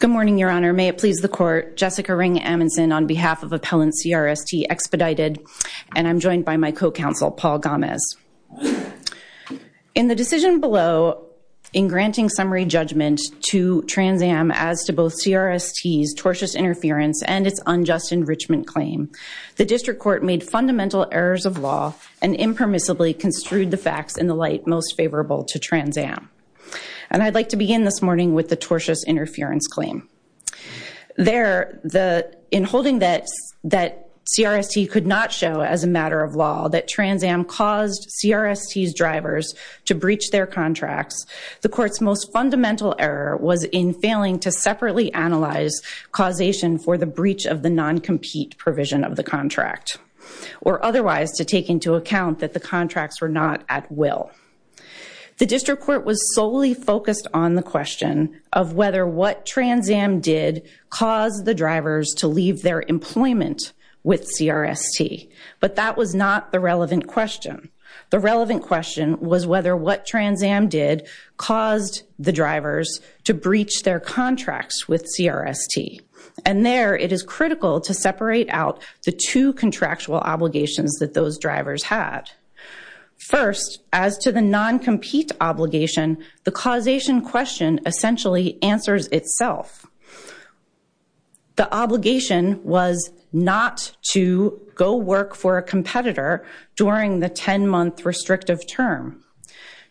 Good morning, Your Honor. May it please the Court, Jessica Ring Amundsen on behalf of Appellant CRST Expedited, and I'm joined by my co-counsel, Paul Gomez. In the decision below in granting summary judgment to Transam as to both CRST's tortious interference and its unjust enrichment claim, the District Court made fundamental errors of law and impermissibly construed the facts in the light most favorable to Transam. And I'd like to begin this morning with the tortious interference claim. In holding that CRST could not show as a matter of law that Transam caused CRST's drivers to breach their contracts, the Court's most fundamental error was in failing to separately analyze causation for the breach of the non-compete provision of the contract, or otherwise to take into account that the contracts were not at will. The District Court was solely focused on the question of whether what Transam did caused the drivers to leave their employment with CRST, but that was not the relevant question. The relevant question was whether what Transam did caused the drivers to breach their contracts with CRST. And there, it is critical to separate out the two contractual obligations that those drivers had. First, as to the non-compete obligation, the causation question essentially answers itself. The obligation was not to go work for a competitor during the 10-month restrictive term.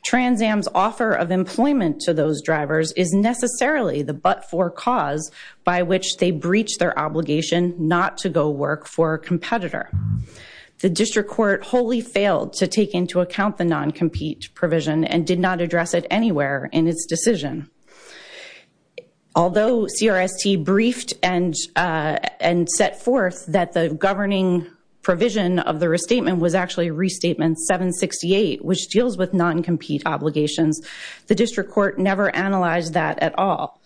Transam's offer of employment to those drivers is necessarily the but-for cause by which they breached their obligation not to go work for a competitor. The District Court wholly failed to take into account the non-compete provision and did not address it anywhere in its decision. Although CRST briefed and set forth that the governing provision of the restatement was actually Restatement 768, which deals with non-compete obligations, the District Court never analyzed that at all.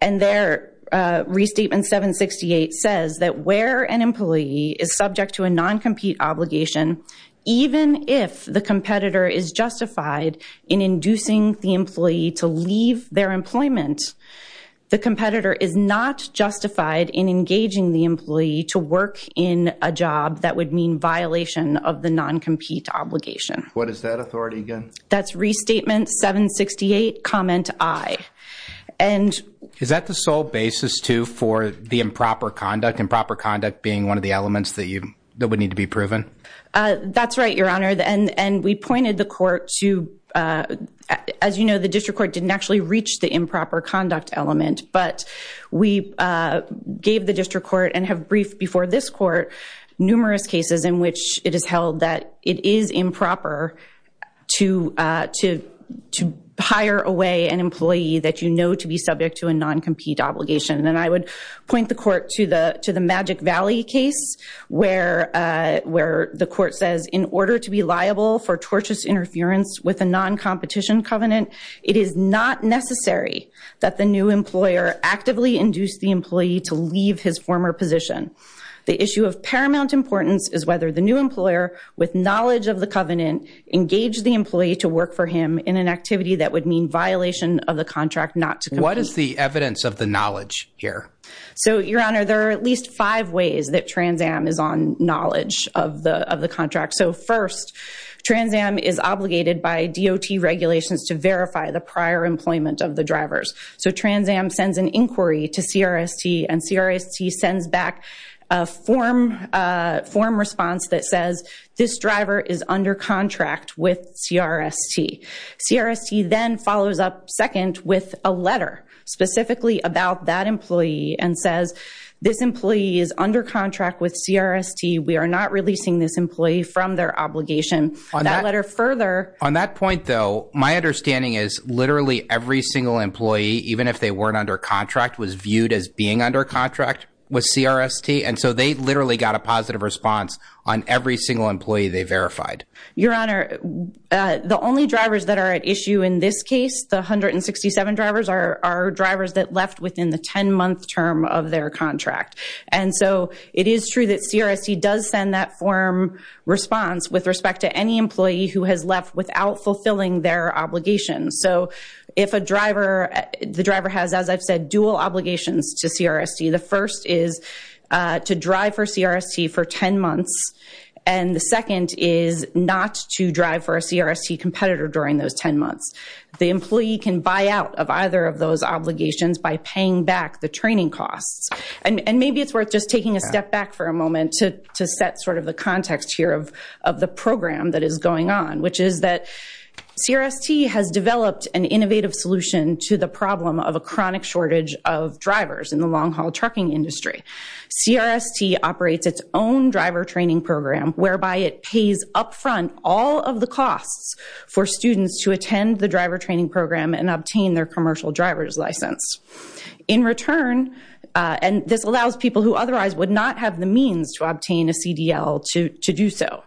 And there, Restatement 768 says that where an employee is subject to a non-compete obligation, even if the competitor is justified in inducing the employee to leave their employment, the competitor is not justified in engaging the employee to work in a job that would mean violation of the non-compete obligation. What is that authority again? That's Restatement 768, Comment I. And is that the sole basis, too, for the improper conduct? Improper conduct being one of the elements that would need to be proven? That's right, Your Honor. And we pointed the court to, as you know, the District Court didn't actually reach the improper conduct element, but we gave the District Court and have briefed before this court numerous cases in which it is held that it is improper to hire away an employee that you know to be subject to a non-compete obligation. And I would point the court to the Magic Valley case, where the court says, in order to be liable for tortious interference with a non-competition covenant, it is not necessary that the new employer actively induce the employee to leave his former position. The issue of paramount importance is whether the new employer, with knowledge of the covenant, engaged the employee to work for him in an activity that would mean violation of the contract not to compete. What is the evidence of the knowledge here? So Your Honor, there are at least five ways that Trans Am is on knowledge of the contract. So first, Trans Am is obligated by DOT regulations to verify the prior employment of the drivers. So Trans Am sends an inquiry to CRST and CRST sends back a form response that says, this driver is under contract with CRST. CRST then follows up second with a letter specifically about that employee and says, this employee is under contract with CRST. We are not releasing this employee from their obligation. On that letter further... So my understanding is literally every single employee, even if they weren't under contract, was viewed as being under contract with CRST. And so they literally got a positive response on every single employee they verified. Your Honor, the only drivers that are at issue in this case, the 167 drivers, are drivers that left within the 10-month term of their contract. And so it is true that CRST does send that form response with respect to any employee who has left without fulfilling their obligations. So if a driver... The driver has, as I've said, dual obligations to CRST. The first is to drive for CRST for 10 months. And the second is not to drive for a CRST competitor during those 10 months. The employee can buy out of either of those obligations by paying back the training costs. And maybe it's worth just taking a step back for a moment to set sort of the context here of the program that is going on, which is that CRST has developed an innovative solution to the problem of a chronic shortage of drivers in the long-haul trucking industry. CRST operates its own driver training program whereby it pays upfront all of the costs for students to attend the driver training program and obtain their commercial driver's license. In return, and this allows people who otherwise would not have the means to obtain a CDL to do so.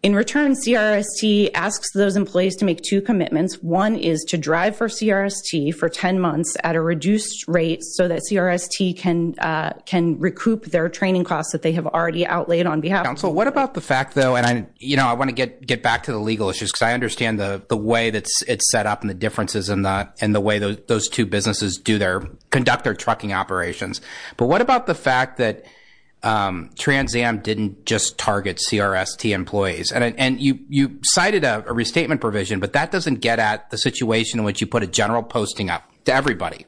In return, CRST asks those employees to make two commitments. One is to drive for CRST for 10 months at a reduced rate so that CRST can recoup their training costs that they have already outlaid on behalf. Council, what about the fact, though, and, you know, I want to get back to the legal issues because I understand the way that it's set up and the differences in the way those two businesses do their...conduct their trucking operations. But what about the fact that Trans Am didn't just target CRST employees? And you cited a restatement provision, but that doesn't get at the situation in which you put a general posting up to everybody.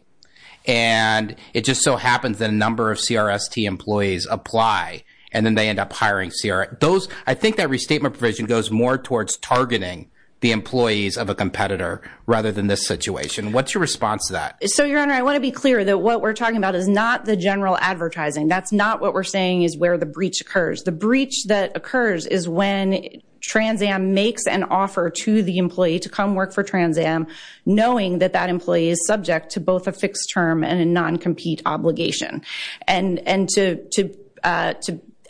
And it just so happens that a number of CRST employees apply and then they end up hiring CRST. Those, I think that restatement provision goes more towards targeting the employees of a competitor rather than this situation. What's your response to that? So, Your Honor, I want to be clear that what we're talking about is not the general advertising. That's not what we're saying is where the breach occurs. The breach that occurs is when Trans Am makes an offer to the employee to come work for Trans Am, knowing that that employee is subject to both a fixed term and a non-compete obligation. And to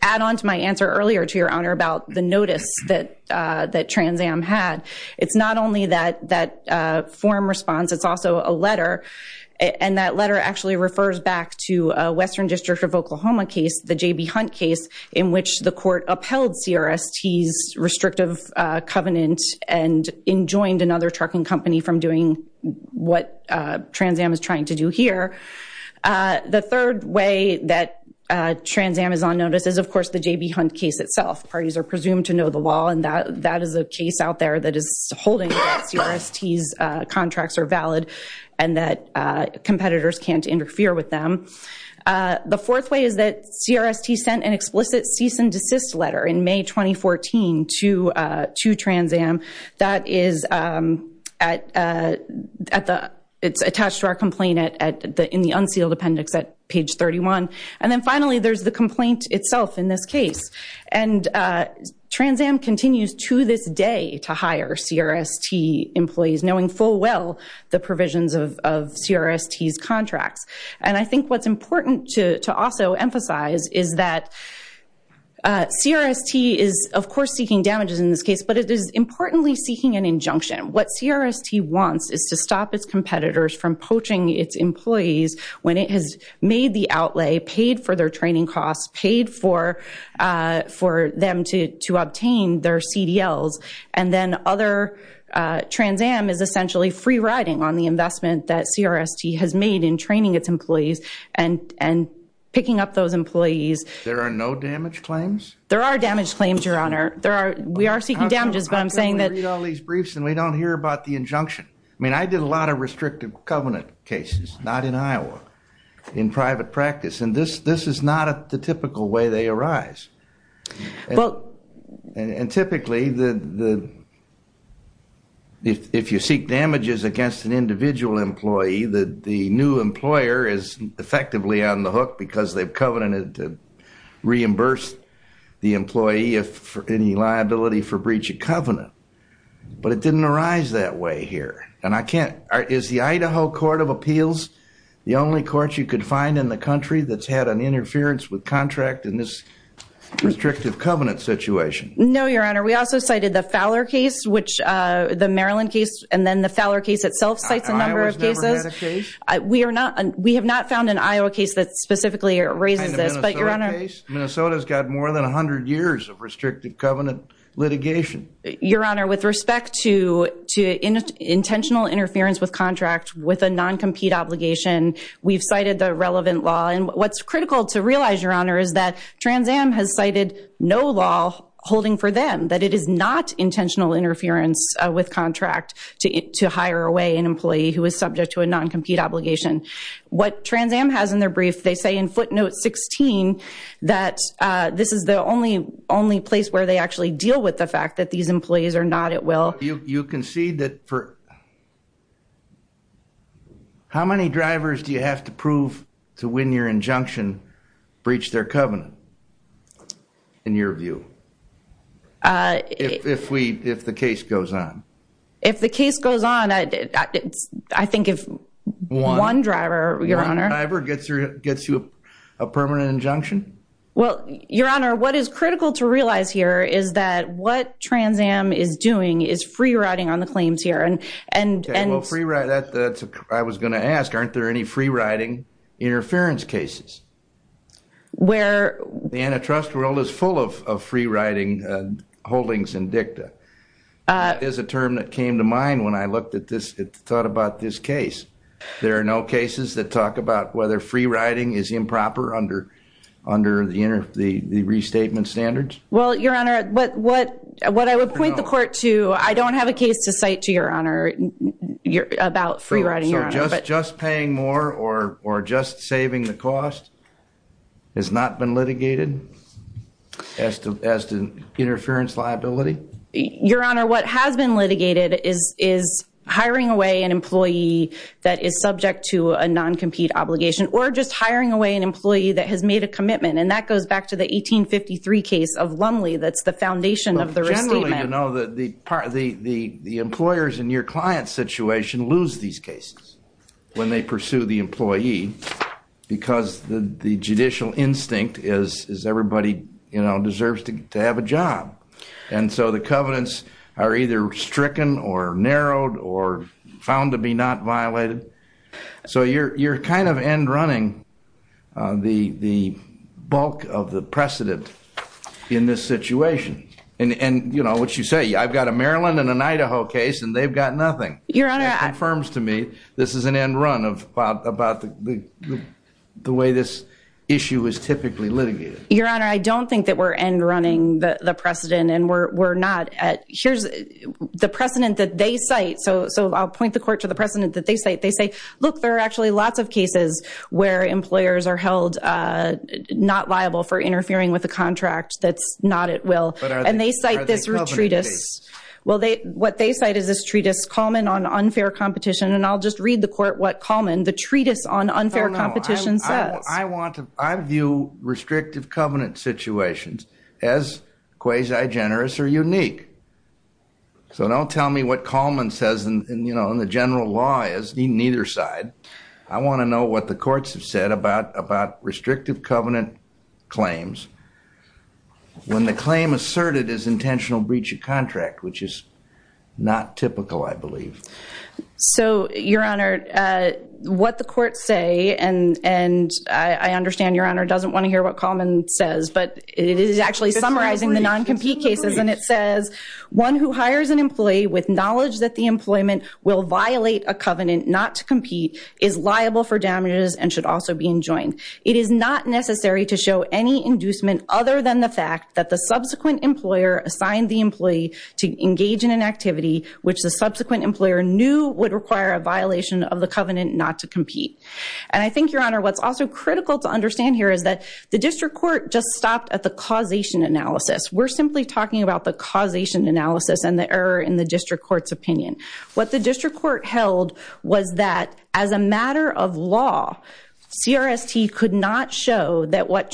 add on to my answer earlier to Your Honor about the notice that Trans Am had, it's not only that form response, it's also a letter. And that letter actually refers back to a Western District of Oklahoma case, the J.B. Hunt case, in which the court upheld CRST's restrictive covenant and enjoined another trucking company from doing what Trans Am is trying to do here. The third way that Trans Am is on notice is, of course, the J.B. Hunt case itself. Parties are presumed to know the law, and that is a case out there that is holding that CRST's contracts are valid and that competitors can't interfere with them. The fourth way is that CRST sent an explicit cease and desist letter in May 2014 to Trans Am that is attached to our complaint in the unsealed appendix at page 31. And then finally, there's the complaint itself in this case. And Trans Am continues to this day to hire CRST employees, knowing full well the provisions of CRST's contracts. And I think what's important to also emphasize is that CRST is, of course, seeking damages in this case, but it is importantly seeking an injunction. What CRST wants is to stop its competitors from poaching its employees when it has made the outlay, paid for their training costs, paid for them to obtain their CDLs. And then other, Trans Am is essentially free-riding on the investment that CRST has made in training its employees and picking up those employees. There are no damage claims? There are damage claims, Your Honor. There are, we are seeking damages, but I'm saying that- I read all these briefs and we don't hear about the injunction. I mean, I did a lot of restrictive covenant cases, not in Iowa, in private practice. And this is not the typical way they arise. And typically, if you seek damages against an individual employee, the new employer is effectively on the hook because they've covenanted to reimburse But it didn't arise that way here. And I can't, is the Idaho Court of Appeals the only court you could find in the country that's had an interference with contract in this restrictive covenant situation? No, Your Honor. We also cited the Fowler case, which, the Maryland case, and then the Fowler case itself cites a number of cases. Iowa's never had a case? We are not, we have not found an Iowa case that specifically raises this, but Your Honor. Minnesota's got more than 100 years of restrictive covenant litigation. Your Honor, with respect to intentional interference with contract with a non-compete obligation, we've cited the relevant law. And what's critical to realize, Your Honor, is that Trans Am has cited no law holding for them, that it is not intentional interference with contract to hire away an employee who is subject to a non-compete obligation. What Trans Am has in their brief, they say in footnote 16, that these employees are not at will. You can see that for, how many drivers do you have to prove to win your injunction, breach their covenant, in your view? If we, if the case goes on. If the case goes on, I think if one driver, Your Honor. One driver gets you a permanent injunction? Well, Your Honor, what is critical to realize here is that what Trans Am is doing is free riding on the claims here. And, and, and. Okay, well free ride, that's, that's what I was going to ask. Aren't there any free riding interference cases? Where. The antitrust world is full of, of free riding holdings in dicta. That is a term that came to mind when I looked at this, thought about this case. There are no cases that talk about whether free riding is improper under, under the inner, the, the restatement standards? Well, Your Honor, what, what, what I would point the court to, I don't have a case to cite to Your Honor, about free riding. So just, just paying more or, or just saving the cost has not been litigated? As to, as to interference liability? Your Honor, what has been litigated is, is hiring away an employee that is subject to a non-compete obligation. Or just hiring away an employee that has made a commitment. And that goes back to the 1853 case of Lumley. That's the foundation of the restatement. Well, generally, you know, the, the, the, the, the employers in your client's situation lose these cases when they pursue the employee. Because the, the judicial instinct is, is everybody, you know, deserves to, to have a job. And so the covenants are either stricken or narrowed or found to be not violated. So you're, you're kind of end running the, the bulk of the precedent in this situation. And, and, you know, what you say, I've got a Maryland and an Idaho case and they've got nothing. Your Honor. That confirms to me, this is an end run of, about, about the, the, the way this issue is typically litigated. Your Honor, I don't think that we're end running the precedent. And we're, we're not at, here's the precedent that they cite. So, so I'll point the court to the precedent that they cite. They say, look, there are actually lots of cases where employers are held not liable for interfering with a contract that's not at will. And they cite this treatise. Well, they, what they cite is this treatise, Kalman on unfair competition. And I'll just read the court what Kalman, the treatise on unfair competition says. I want to, I view restrictive covenant situations as quasi-generous or unique. So don't tell me what Kalman says in, in, you know, in the general law is, neither side. I want to know what the courts have said about, about restrictive covenant claims when the claim asserted is intentional breach of contract, which is not typical, I believe. So, Your Honor, what the courts say, and, and I, I understand Your Honor doesn't want to hear what Kalman says, but it is actually summarizing the non-compete cases. And it says, one who hires an employee with knowledge that the employment will violate a covenant not to compete is liable for damages and should also be enjoined. It is not necessary to show any inducement other than the fact that the subsequent employer assigned the employee to engage in an activity which the subsequent employer knew would require a violation of the covenant not to compete. And I think, Your Honor, what's also critical to understand here is that the district court just stopped at the causation analysis. We're simply talking about the causation analysis and the error in the district court's opinion. What the district court held was that as a matter of law, CRST could not show that what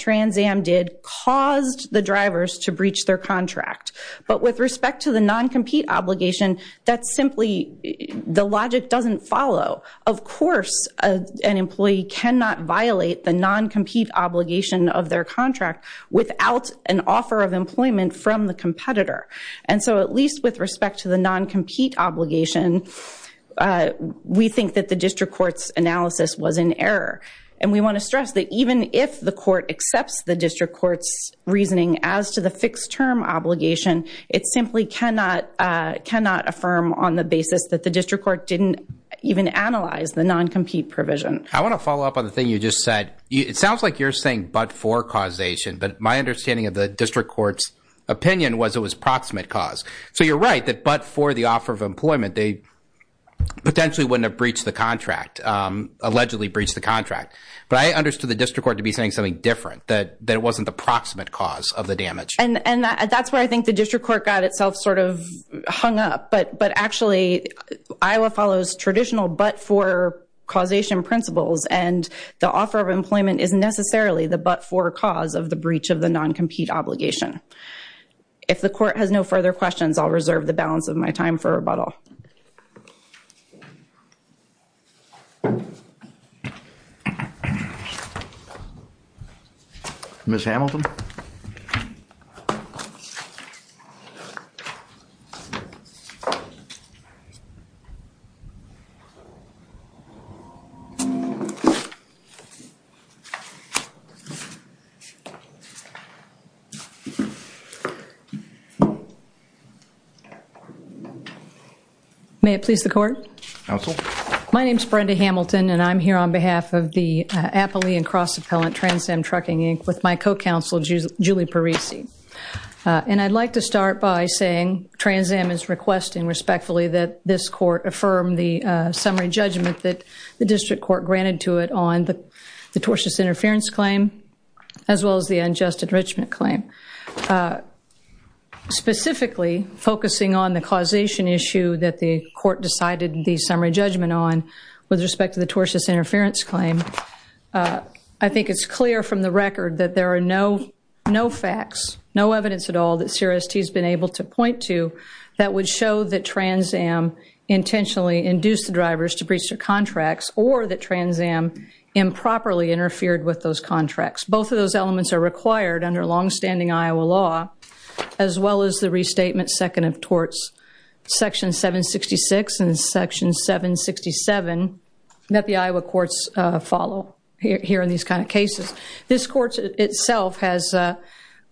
But with respect to the non-compete obligation, that's simply, the logic doesn't follow. Of course, an employee cannot violate the non-compete obligation of their contract without an offer of employment from the competitor. And so, at least with respect to the non-compete obligation, we think that the district court's analysis was in error. And we want to stress that even if the court accepts the district court's reasoning as to the fixed term obligation, it simply cannot affirm on the basis that the district court didn't even analyze the non-compete provision. I want to follow up on the thing you just said. It sounds like you're saying but for causation, but my understanding of the district court's opinion was it was proximate cause. So, you're right that but for the offer of employment, they potentially wouldn't have breached the contract, allegedly breached the contract. But I understood the district court to be saying something different, that it wasn't the proximate cause of the damage. And that's where I think the district court got itself sort of hung up. But actually, Iowa follows traditional but for causation principles and the offer of employment is necessarily the but for cause of the breach of the non-compete obligation. If the court has no further questions, I'll reserve the balance of my time for rebuttal. Ms. Hamilton? May it please the court? Counsel? My name is Brenda Hamilton and I'm here on behalf of the Appalachian Cross Appellant Trans Am Trucking Inc. with my co-counsel, Julie Parisi. And I'd like to start by saying Trans Am is requesting respectfully that this court affirm the summary judgment that the district court granted to it on the tortious interference claim as well as the unjust enrichment claim. Specifically, focusing on the causation issue that the court decided the summary judgment on with respect to the tortious interference claim, I think it's clear from the record that there are no facts, no evidence at all that CRST has been able to point to that would show that Trans Am intentionally induced the drivers to breach their contracts or that Trans Am improperly interfered with those contracts. Both of those elements are required under longstanding Iowa law as well as the restatement second of torts, section 766 and section 767 that the Iowa courts follow here in these kind of cases. This court itself has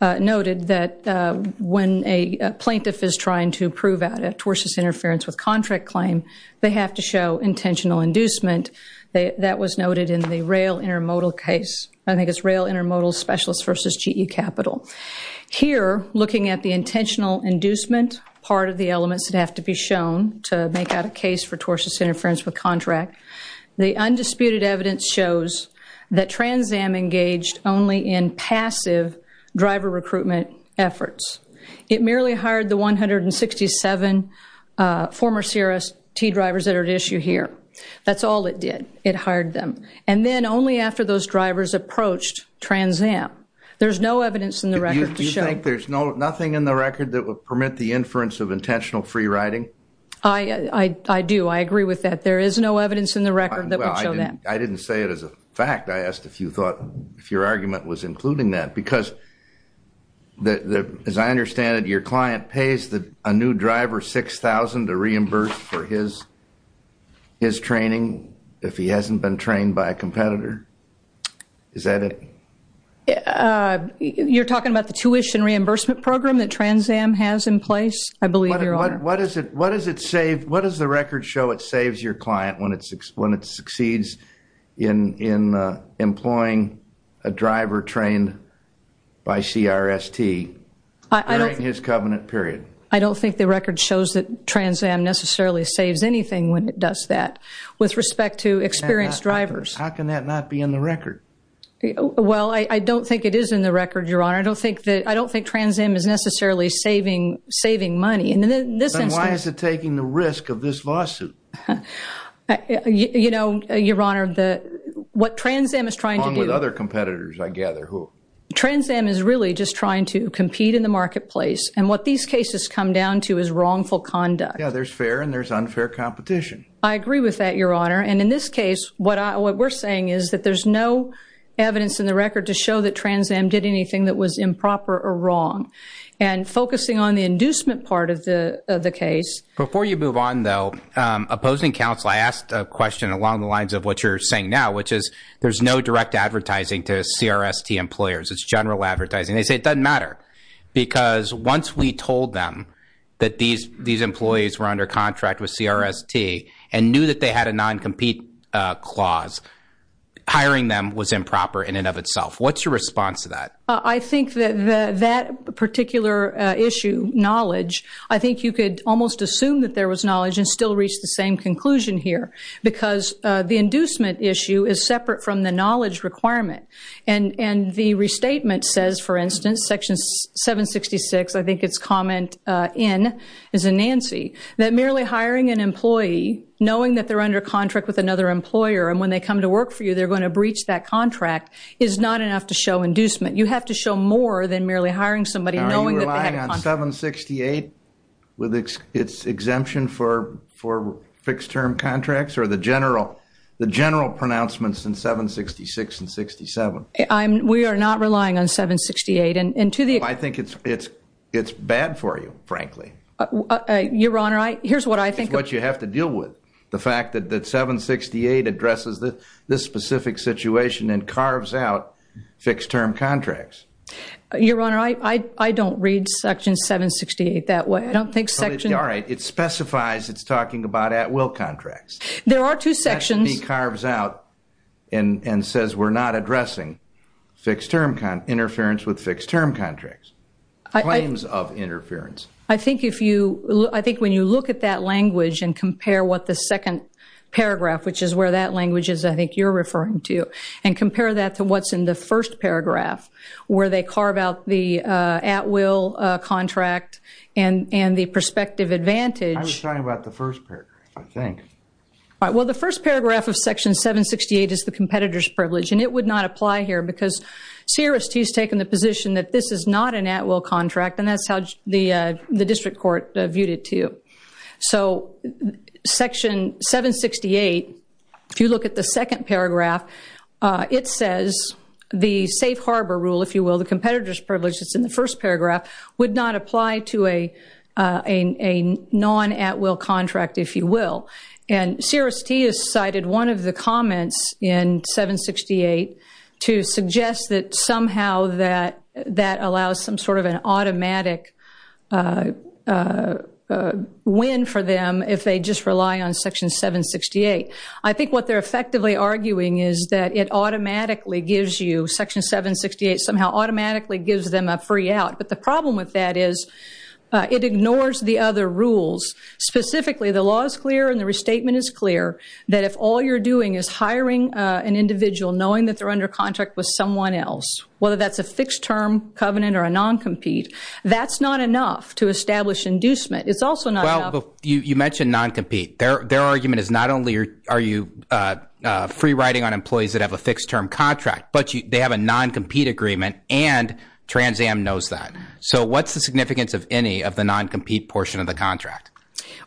noted that when a plaintiff is trying to prove a tortious interference with contract claim, they have to show intentional inducement. That was noted in the rail intermodal case. I think it's rail intermodal specialist versus GE capital. Here, looking at the intentional inducement part of the elements that have to be shown to make out a case for tortious interference with contract, the undisputed evidence shows that Trans Am engaged only in passive driver recruitment efforts. It merely hired the 167 former CRST drivers that are at issue here. That's all it did. It hired them. Then only after those drivers approached Trans Am. There's no evidence in the record. Do you think there's nothing in the record that would permit the inference of intentional free riding? I do. I agree with that. There is no evidence in the record that would show that. I didn't say it as a fact. I asked if you thought if your argument was including that. Because as I understand it, your client pays a new driver 6,000 to reimburse for his training if he hasn't been trained by a competitor. Is that it? You're talking about the tuition reimbursement program that Trans Am has in place? I believe, your honor. What does it save? What does the record show it saves your client when it succeeds in employing a driver trained by CRST during his covenant period? I don't think the record shows that Trans Am necessarily saves anything when it does that. With respect to experienced drivers. How can that not be in the record? Well, I don't think it is in the record, your honor. I don't think that I don't think Trans Am is necessarily saving money in this instance. Then why is it taking the risk of this lawsuit? You know, your honor, what Trans Am is trying to do. Along with other competitors, I gather. Trans Am is really just trying to compete in the marketplace. And what these cases come down to is wrongful conduct. Yeah, there's fair and there's unfair competition. I agree with that, your honor. And in this case, what we're saying is that there's no evidence in the record to show that Trans Am did anything that was improper or wrong. And focusing on the inducement part of the case. Before you move on, though, opposing counsel, I asked a question along the lines of what you're saying now, which is there's no direct advertising to CRST employers. It's general advertising. They say it doesn't matter because once we told them that these employees were under contract with CRST and knew that they had a non-compete clause, hiring them was improper in and of itself. What's your response to that? I think that that particular issue, knowledge, I think you could almost assume that there was knowledge and still reach the same conclusion here because the inducement issue is separate from the knowledge requirement. And the restatement says, for instance, Section 766, I think it's comment in is a Nancy, that merely hiring an employee, knowing that they're under contract with another employer, and when they come to work for you, they're going to breach that contract is not enough to show inducement. You have to show more than merely hiring somebody knowing that they had a contract. Are you relying on 768 with its exemption for fixed term contracts or the general pronouncements in 766 and 67? We are not relying on 768. And to the extent. I think it's bad for you, frankly. Your Honor, here's what I think. It's what you have to deal with. The fact that 768 addresses this specific situation and carves out fixed term contracts. Your Honor, I don't read Section 768 that way. I don't think Section. All right. It specifies it's talking about at will contracts. There are two sections. Section B carves out and says we're not addressing fixed term interference with fixed term contracts. Claims of interference. I think when you look at that language and compare what the second paragraph, which is where that language is, I think you're referring to, and compare that to what's in the first paragraph where they carve out the at will contract and the prospective advantage. I was talking about the first paragraph, I think. All right. Well, the first paragraph of Section 768 is the competitor's privilege, and it would not apply here because CRST has taken the position that this is not an at will contract, and that's how the district court viewed it, too. So Section 768, if you look at the second paragraph, it says the safe harbor rule, if you will, the competitor's privilege that's in the first paragraph, would not apply to a non-at will contract, if you will. And CRST has cited one of the comments in 768 to suggest that somehow that allows some of an automatic win for them if they just rely on Section 768. I think what they're effectively arguing is that it automatically gives you, Section 768 somehow automatically gives them a free out. But the problem with that is it ignores the other rules. Specifically, the law is clear and the restatement is clear that if all you're doing is hiring an individual knowing that they're under contract with someone else, whether that's a fixed term covenant or a non-compete, that's not enough to establish inducement. It's also not enough. Well, you mentioned non-compete. Their argument is not only are you free riding on employees that have a fixed term contract, but they have a non-compete agreement and Trans Am knows that. So what's the significance of any of the non-compete portion of the contract?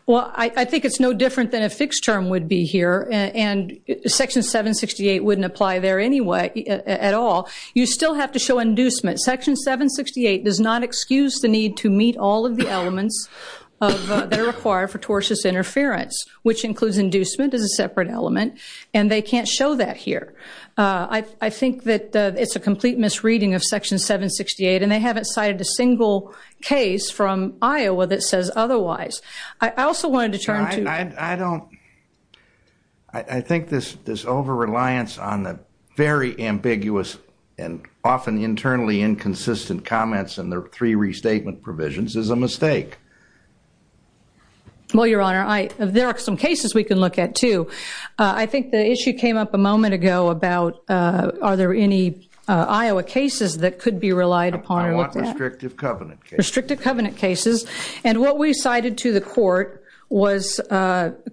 Well, I think it's no different than a fixed term would be here, and Section 768 wouldn't apply there anyway at all. You still have to show inducement. Section 768 does not excuse the need to meet all of the elements that are required for tortious interference, which includes inducement as a separate element, and they can't show that here. I think that it's a complete misreading of Section 768, and they haven't cited a single case from Iowa that says otherwise. I also wanted to turn to— I think this over-reliance on the very ambiguous and often internally inconsistent comments in the three restatement provisions is a mistake. Well, Your Honor, there are some cases we can look at, too. I think the issue came up a moment ago about are there any Iowa cases that could be relied upon with that? I want restrictive covenant cases. Restrictive covenant cases. And what we cited to the court was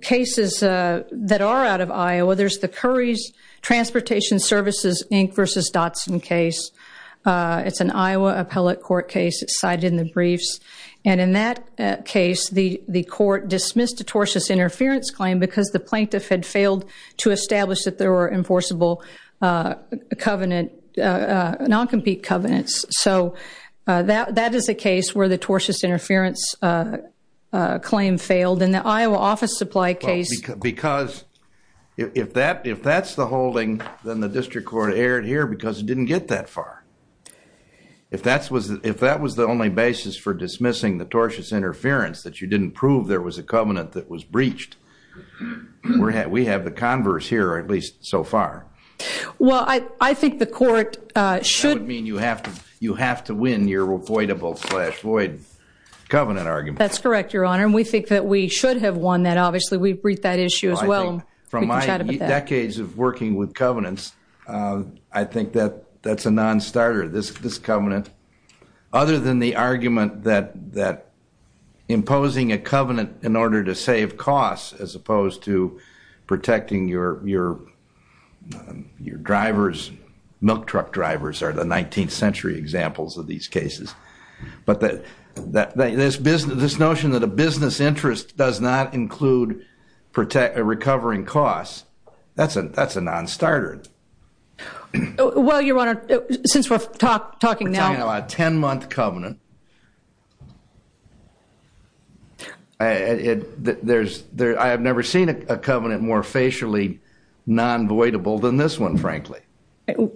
cases that are out of Iowa. There's the Curry's Transportation Services, Inc. v. Dotson case. It's an Iowa appellate court case. It's cited in the briefs. And in that case, the court dismissed a tortious interference claim because the plaintiff had failed to establish that there were enforceable non-compete covenants. So that is a case where the tortious interference claim failed. And the Iowa office supply case— Because if that's the holding, then the district court erred here because it didn't get that far. If that was the only basis for dismissing the tortious interference, that you didn't prove there was a covenant that was breached, we have the converse here, at least so far. Well, I think the court should— You have to win your avoidable-slash-void covenant argument. That's correct, Your Honor. And we think that we should have won that. Obviously, we've breached that issue as well. I think, from my decades of working with covenants, I think that that's a non-starter, this covenant. Other than the argument that imposing a covenant in order to save costs as opposed to protecting your drivers—milk truck drivers are the 19th century examples of these cases. But this notion that a business interest does not include recovering costs, that's a non-starter. Well, Your Honor, since we're talking now— I'm talking about a 10-month covenant. I have never seen a covenant more facially non-voidable than this one, frankly.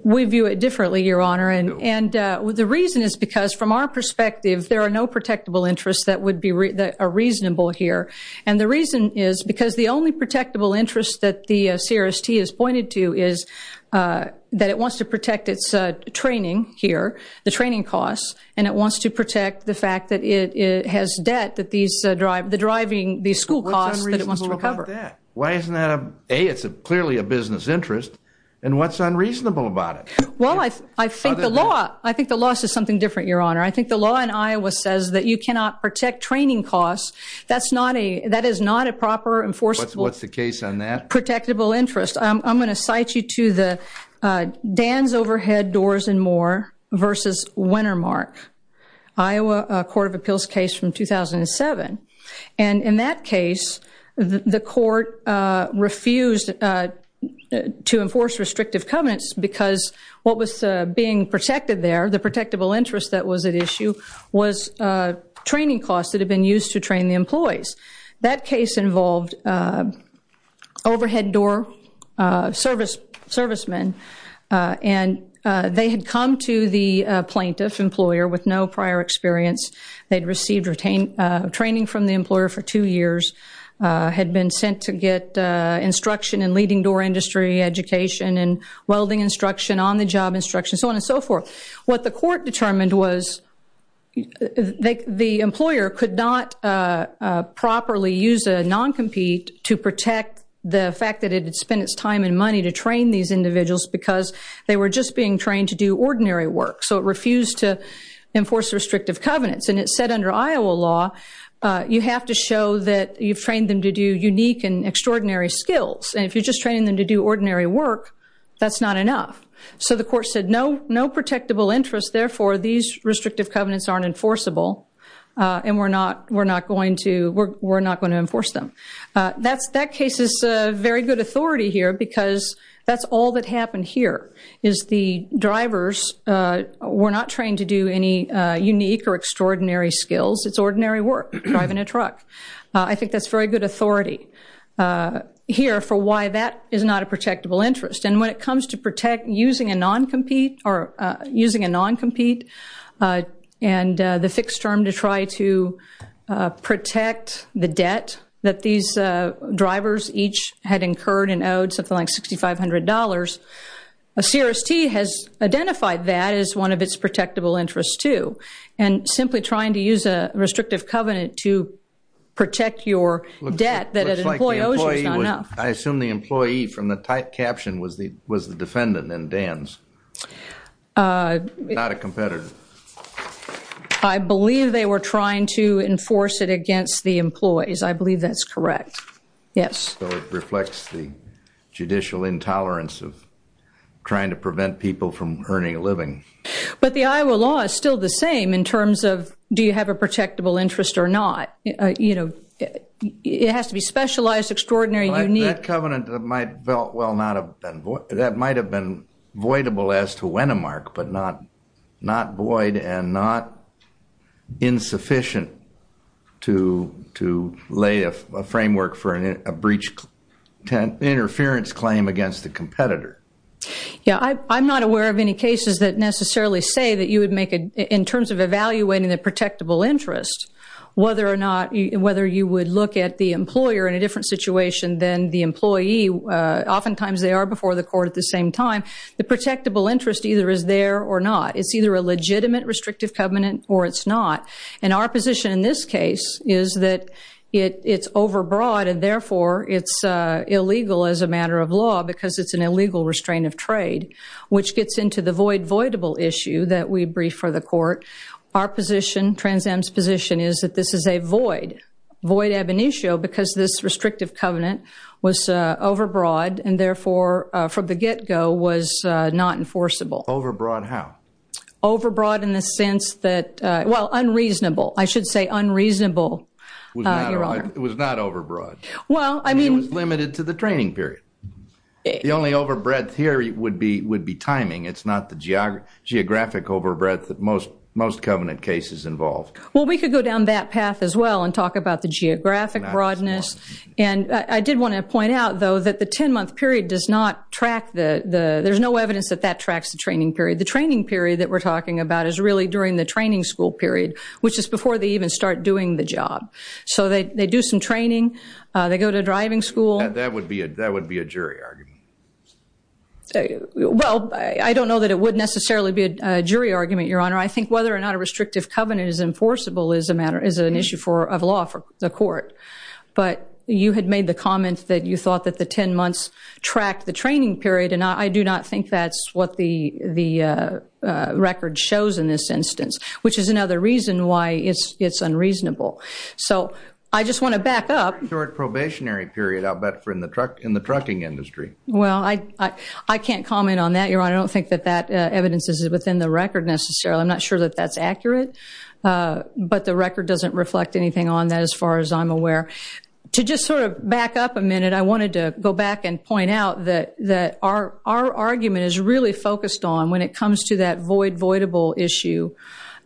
We view it differently, Your Honor, and the reason is because, from our perspective, there are no protectable interests that are reasonable here. And the reason is because the only protectable interest that the CRST has pointed to is that it wants to protect its training here, the training costs, and it wants to protect the fact that it has debt that these—the driving—these school costs that it wants to recover. What's unreasonable about that? Why isn't that, A, it's clearly a business interest, and what's unreasonable about it? Well, I think the law—I think the law says something different, Your Honor. I think the law in Iowa says that you cannot protect training costs. That's not a—that is not a proper, enforceable— What's the case on that? Protectable interest. I'm going to cite you to the—Dan's Overhead Doors and More versus Wintermark, Iowa Court of Appeals case from 2007. And in that case, the court refused to enforce restrictive covenants because what was being protected there, the protectable interest that was at issue, was training costs that had been used to train the employees. That case involved overhead door service—servicemen, and they had come to the plaintiff, employer, with no prior experience. They'd received retain—training from the employer for two years, had been sent to get instruction in leading door industry, education, and welding instruction, on-the-job instruction, so on and so forth. What the court determined was the employer could not properly use a non-compete to protect the fact that it had spent its time and money to train these individuals because they were just being trained to do ordinary work. So it refused to enforce restrictive covenants. And it said under Iowa law, you have to show that you've trained them to do unique and extraordinary skills. And if you're just training them to do ordinary work, that's not enough. So the court said, no, no protectable interest. Therefore, these restrictive covenants aren't enforceable, and we're not, we're not going to, we're not going to enforce them. That's, that case is very good authority here because that's all that happened here, is the drivers were not trained to do any unique or extraordinary skills. It's ordinary work, driving a truck. I think that's very good authority here for why that is not a protectable interest. And when it comes to protect using a non-compete or using a non-compete and the fixed term to try to protect the debt that these drivers each had incurred and owed something like $6,500, a CRST has identified that as one of its protectable interests too. And simply trying to use a restrictive covenant to protect your debt that an employee owes you is not enough. I assume the employee from the typed caption was the, was the defendant in Dan's. Not a competitor. I believe they were trying to enforce it against the employees. I believe that's correct. Yes. So it reflects the judicial intolerance of trying to prevent people from earning a living. But the Iowa law is still the same in terms of do you have a protectable interest or not? You know, it has to be specialized, extraordinary, unique. That covenant might well not have been, that might have been voidable as to Wennemark, but not void and not insufficient to lay a framework for a breach, interference claim against the competitor. Yeah, I'm not aware of any cases that necessarily say that you would make, in terms of evaluating the protectable interest, whether or not, whether you would look at the employer in a different situation than the employee. Oftentimes they are before the court at the same time. The protectable interest either is there or not. It's either a legitimate restrictive covenant or it's not. And our position in this case is that it, it's overbroad and therefore it's illegal as a matter of law because it's an illegal restraint of trade. Which gets into the void voidable issue that we brief for the court. Our position, Trans Am's position is that this is a void, void ab initio because this restrictive covenant was overbroad and therefore from the get-go was not enforceable. Overbroad how? Overbroad in the sense that, well, unreasonable. I should say unreasonable, Your Honor. It was not overbroad. Well, I mean. It was limited to the training period. The only overbreadth here would be, would be timing. It's not the geographic overbreadth that most, most covenant cases involve. Well, we could go down that path as well and talk about the geographic broadness. And I did want to point out, though, that the 10-month period does not track the, the, there's no evidence that that tracks the training period. The training period that we're talking about is really during the training school period, which is before they even start doing the job. So they, they do some training. They go to driving school. That would be a, that would be a jury argument. Well, I don't know that it would necessarily be a jury argument, Your Honor. I think whether or not a restrictive covenant is enforceable is a matter, is an issue for, of law for the court. But you had made the comment that you thought that the 10 months tracked the training period. And I do not think that's what the, the record shows in this instance, which is another reason why it's, it's unreasonable. So I just want to back up. Short probationary period, I'll bet, for in the truck, in the trucking industry. Well, I, I, I can't comment on that, Your Honor. I don't think that that evidence is within the record necessarily. I'm not sure that that's accurate. But the record doesn't reflect anything on that as far as I'm aware. To just sort of back up a minute, I wanted to go back and point out that, that our, our argument is really focused on when it comes to that void, voidable issue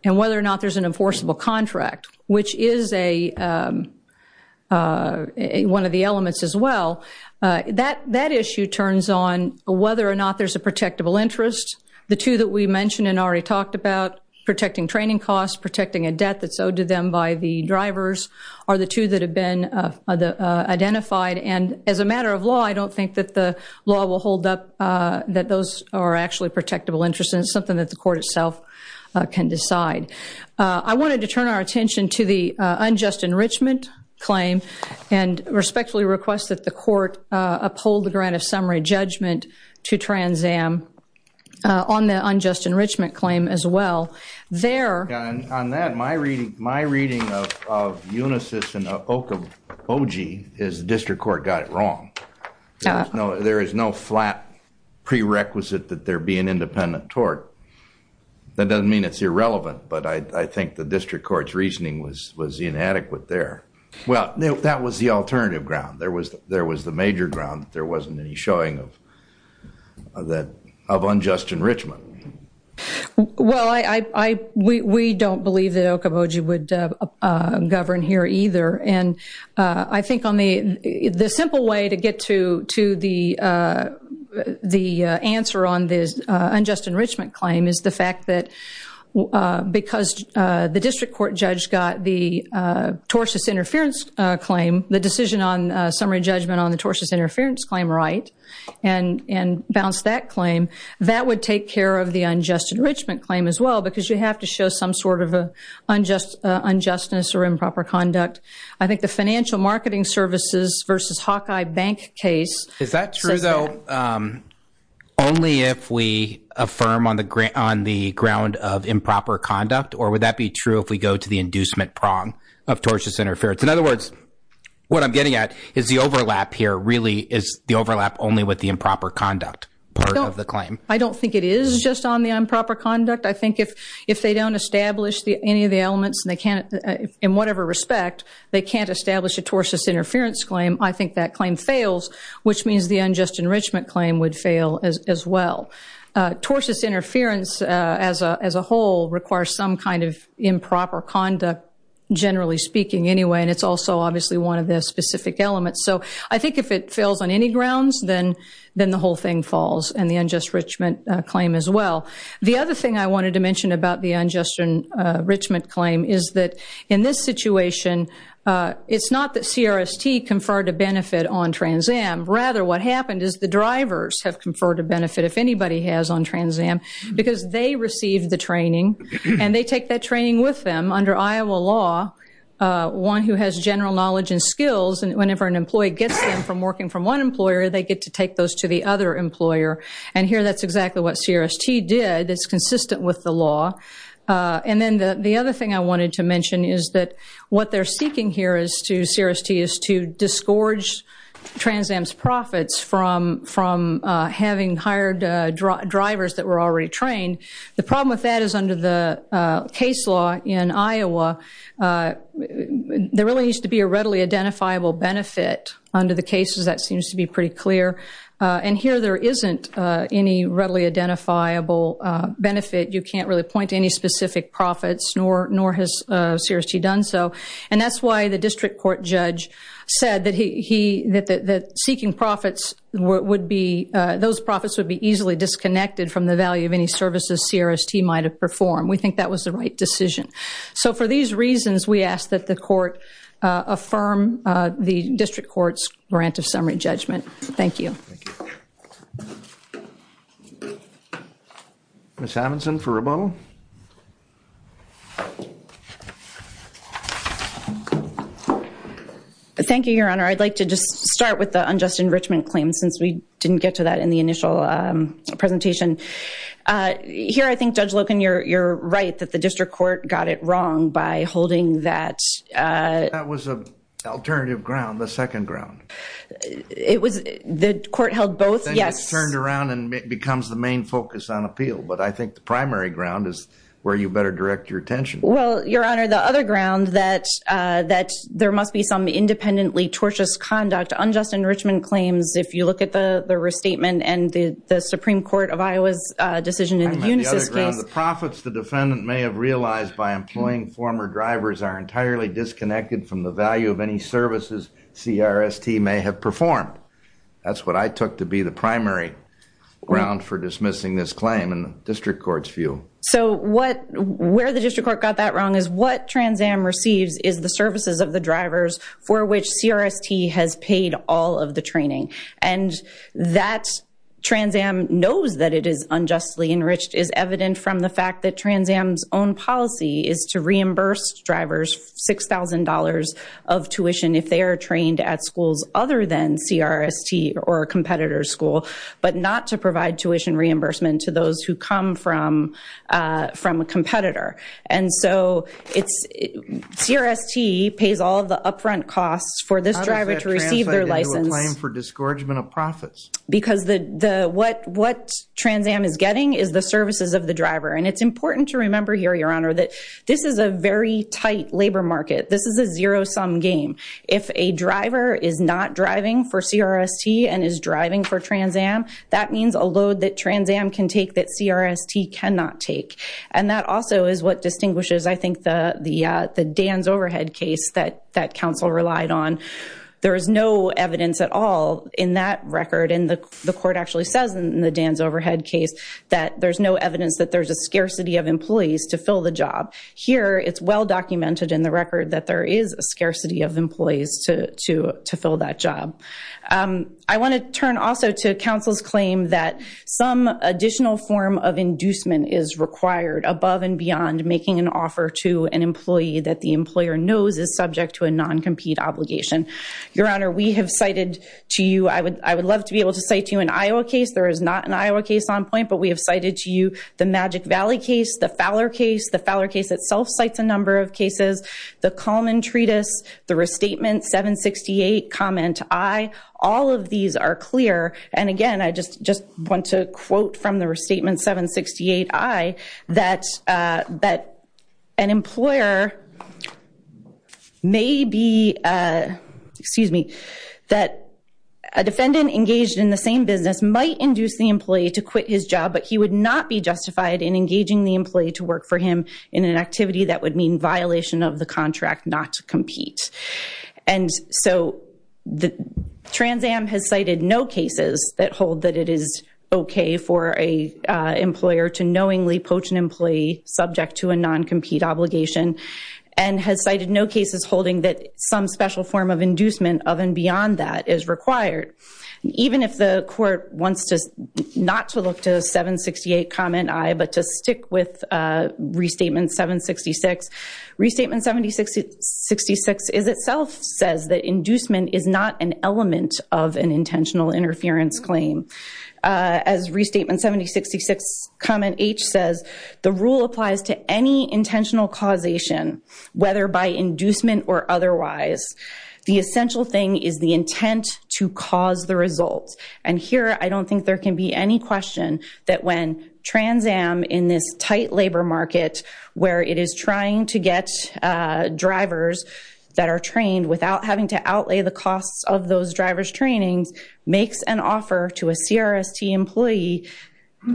and whether or not there's an enforceable contract, which is a, one of the elements as well. That, that issue turns on whether or not there's a protectable interest. The two that we mentioned and already talked about, protecting training costs, protecting a debt that's owed to them by the drivers, are the two that have been identified. And as a matter of law, I don't think that the law will hold up that those are actually protectable interests. And it's something that the court itself can decide. I wanted to turn our attention to the unjust enrichment claim and respectfully request that the court uphold the grant of summary judgment to Trans Am on the unjust enrichment claim as well. There. On that, my reading, my reading of, of Unisys and Okoboji, is the district court got it wrong. There is no flat prerequisite that there be an independent tort. That doesn't mean it's irrelevant, but I, I think the district court's reasoning was, was inadequate there. Well, that was the alternative ground. There was, there was the major ground. There wasn't any showing of that, of unjust enrichment. Well, I, I, I, we, we don't believe that Okoboji would govern here either. And I think on the, the simple way to get to, to the, the answer on this unjust enrichment claim is the fact that because the district court judge got the torsus interference claim, the decision on summary judgment on the torsus interference claim right, and, and bounced that claim, that would take care of the unjust enrichment claim as well because you have to show some sort of a unjust, unjustness or improper conduct. I think the financial marketing services versus Hawkeye Bank case. Is that true though, only if we affirm on the ground, on the ground of improper conduct, or would that be true if we go to the inducement prong of torsus interference? In other words, what I'm getting at is the overlap here really is the overlap only with the improper conduct part of the claim. I don't think it is just on the improper conduct. I think if, if they don't establish the, any of the elements and they can't, in whatever respect, they can't establish a torsus interference claim, I think that claim fails, which means the unjust enrichment claim would fail as, as well. Torsus interference as a, as a whole requires some kind of improper conduct, generally speaking anyway, and it's also obviously one of the specific elements. So I think if it fails on any grounds, then, then the whole thing falls and the unjust enrichment claim as well. The other thing I wanted to mention about the unjust enrichment claim is that in this situation, it's not that CRST conferred a benefit on Trans Am. Rather, what happened is the drivers have conferred a benefit, if anybody has on Trans Am, because they received the training and they take that training with them under Iowa law. One who has general knowledge and skills, and whenever an employee gets them from working from one employer, they get to take those to the other employer. And here that's exactly what CRST did. It's consistent with the law. And then the, the other thing I wanted to mention is that what they're seeking here is to, CRST is to disgorge Trans Am's profits from, from having hired drivers that were already trained. The problem with that is under the case law in Iowa, there really needs to be a readily identifiable benefit. Under the cases, that seems to be pretty clear. And here there isn't any readily identifiable benefit. You can't really point to any specific profits, nor, nor has CRST done so. And that's why the district court judge said that he, he, that, that, that seeking profits would be, those profits would be easily disconnected from the value of any services CRST might have performed. We think that was the right decision. So for these reasons, we ask that the court affirm the district court's grant of summary judgment. Thank you. Thank you. Ms. Hammondson for rebuttal. Thank you, Your Honor. I'd like to just start with the unjust enrichment claim, since we didn't get to that in the initial presentation. Here, I think Judge Loken, you're, you're right, that the district court got it wrong by holding that. That was an alternative ground, the second ground. It was, the court held both, yes. Then it's turned around and it becomes the main focus on appeal. But I think the primary ground is where you better direct your attention. Well, Your Honor, the other ground that, that there must be some independently tortious conduct, unjust enrichment claims, if you look at the restatement and the Supreme Court of Iowa's decision in the Unisys case. The profits the defendant may have realized by employing former drivers are entirely disconnected from the value of any services CRST may have performed. That's what I took to be the primary ground for dismissing this claim in the district court's view. So what, where the district court got that wrong is what Trans Am receives is the services of the drivers for which CRST has paid all of the training. And that Trans Am knows that it is unjustly enriched is evident from the fact that Trans Am's own policy is to reimburse drivers $6,000 of tuition if they are trained at schools other than CRST or a competitor's school, but not to provide tuition reimbursement to those who come from, from a competitor. And so it's, CRST pays all the upfront costs for this driver to receive their license. How does that translate into a claim for disgorgement of profits? Because the, the, what, what Trans Am is getting is the services of the driver. And it's important to remember here, Your Honor, that this is a very tight labor market. This is a zero-sum game. If a driver is not driving for CRST and is driving for Trans Am, that means a load that Trans Am can take that CRST cannot take. And that also is what distinguishes, I think, the, the Dan's overhead case that, that counsel relied on. There is no evidence at all in that record. And the, the court actually says in the Dan's overhead case that there's no evidence that there's a scarcity of employees to fill the job. Here, it's well documented in the record that there is a scarcity of employees to, to, to fill that job. I want to turn also to counsel's claim that some additional form of inducement is required above and beyond making an offer to an employee that the employer knows is subject to a non-compete obligation. Your Honor, we have cited to you, I would, I would love to be able to cite to you an Iowa case. There is not an Iowa case on point, but we have cited to you the Magic Valley case, the Fowler case. The Fowler case itself cites a number of cases. The Kalman Treatise, the Restatement 768 Comment I, all of these are clear. And again, I just, just want to quote from the Restatement 768 I that, that an employer may be, excuse me, that a defendant engaged in the same business might induce the employee to quit his job, but he would not be justified in engaging the employee to work for him in an activity that would mean violation of the contract not to compete. And so, the Trans Am has cited no cases that hold that it is okay for a employer to knowingly coach an employee subject to a non-compete obligation and has cited no cases holding that some special form of inducement of and beyond that is required. Even if the court wants to not to look to 768 Comment I, but to stick with Restatement 766, Restatement 7066 is itself says that inducement is not an element of an intentional interference claim. As Restatement 7066 Comment H says, the rule applies to any intentional causation, whether by inducement or otherwise. The essential thing is the intent to cause the result. And here, I don't think there can be any question that when Trans Am in this tight labor market where it is trying to get drivers that are trained without having to outlay the costs of those drivers' trainings makes an offer to a CRST employee,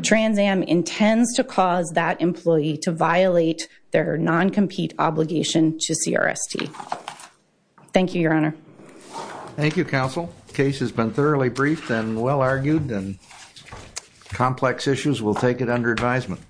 Trans Am intends to cause that employee to violate their non-compete obligation to CRST. Thank you, Your Honor. Thank you, Counsel. Case has been thoroughly briefed and well argued and complex issues. We'll take it under advisement.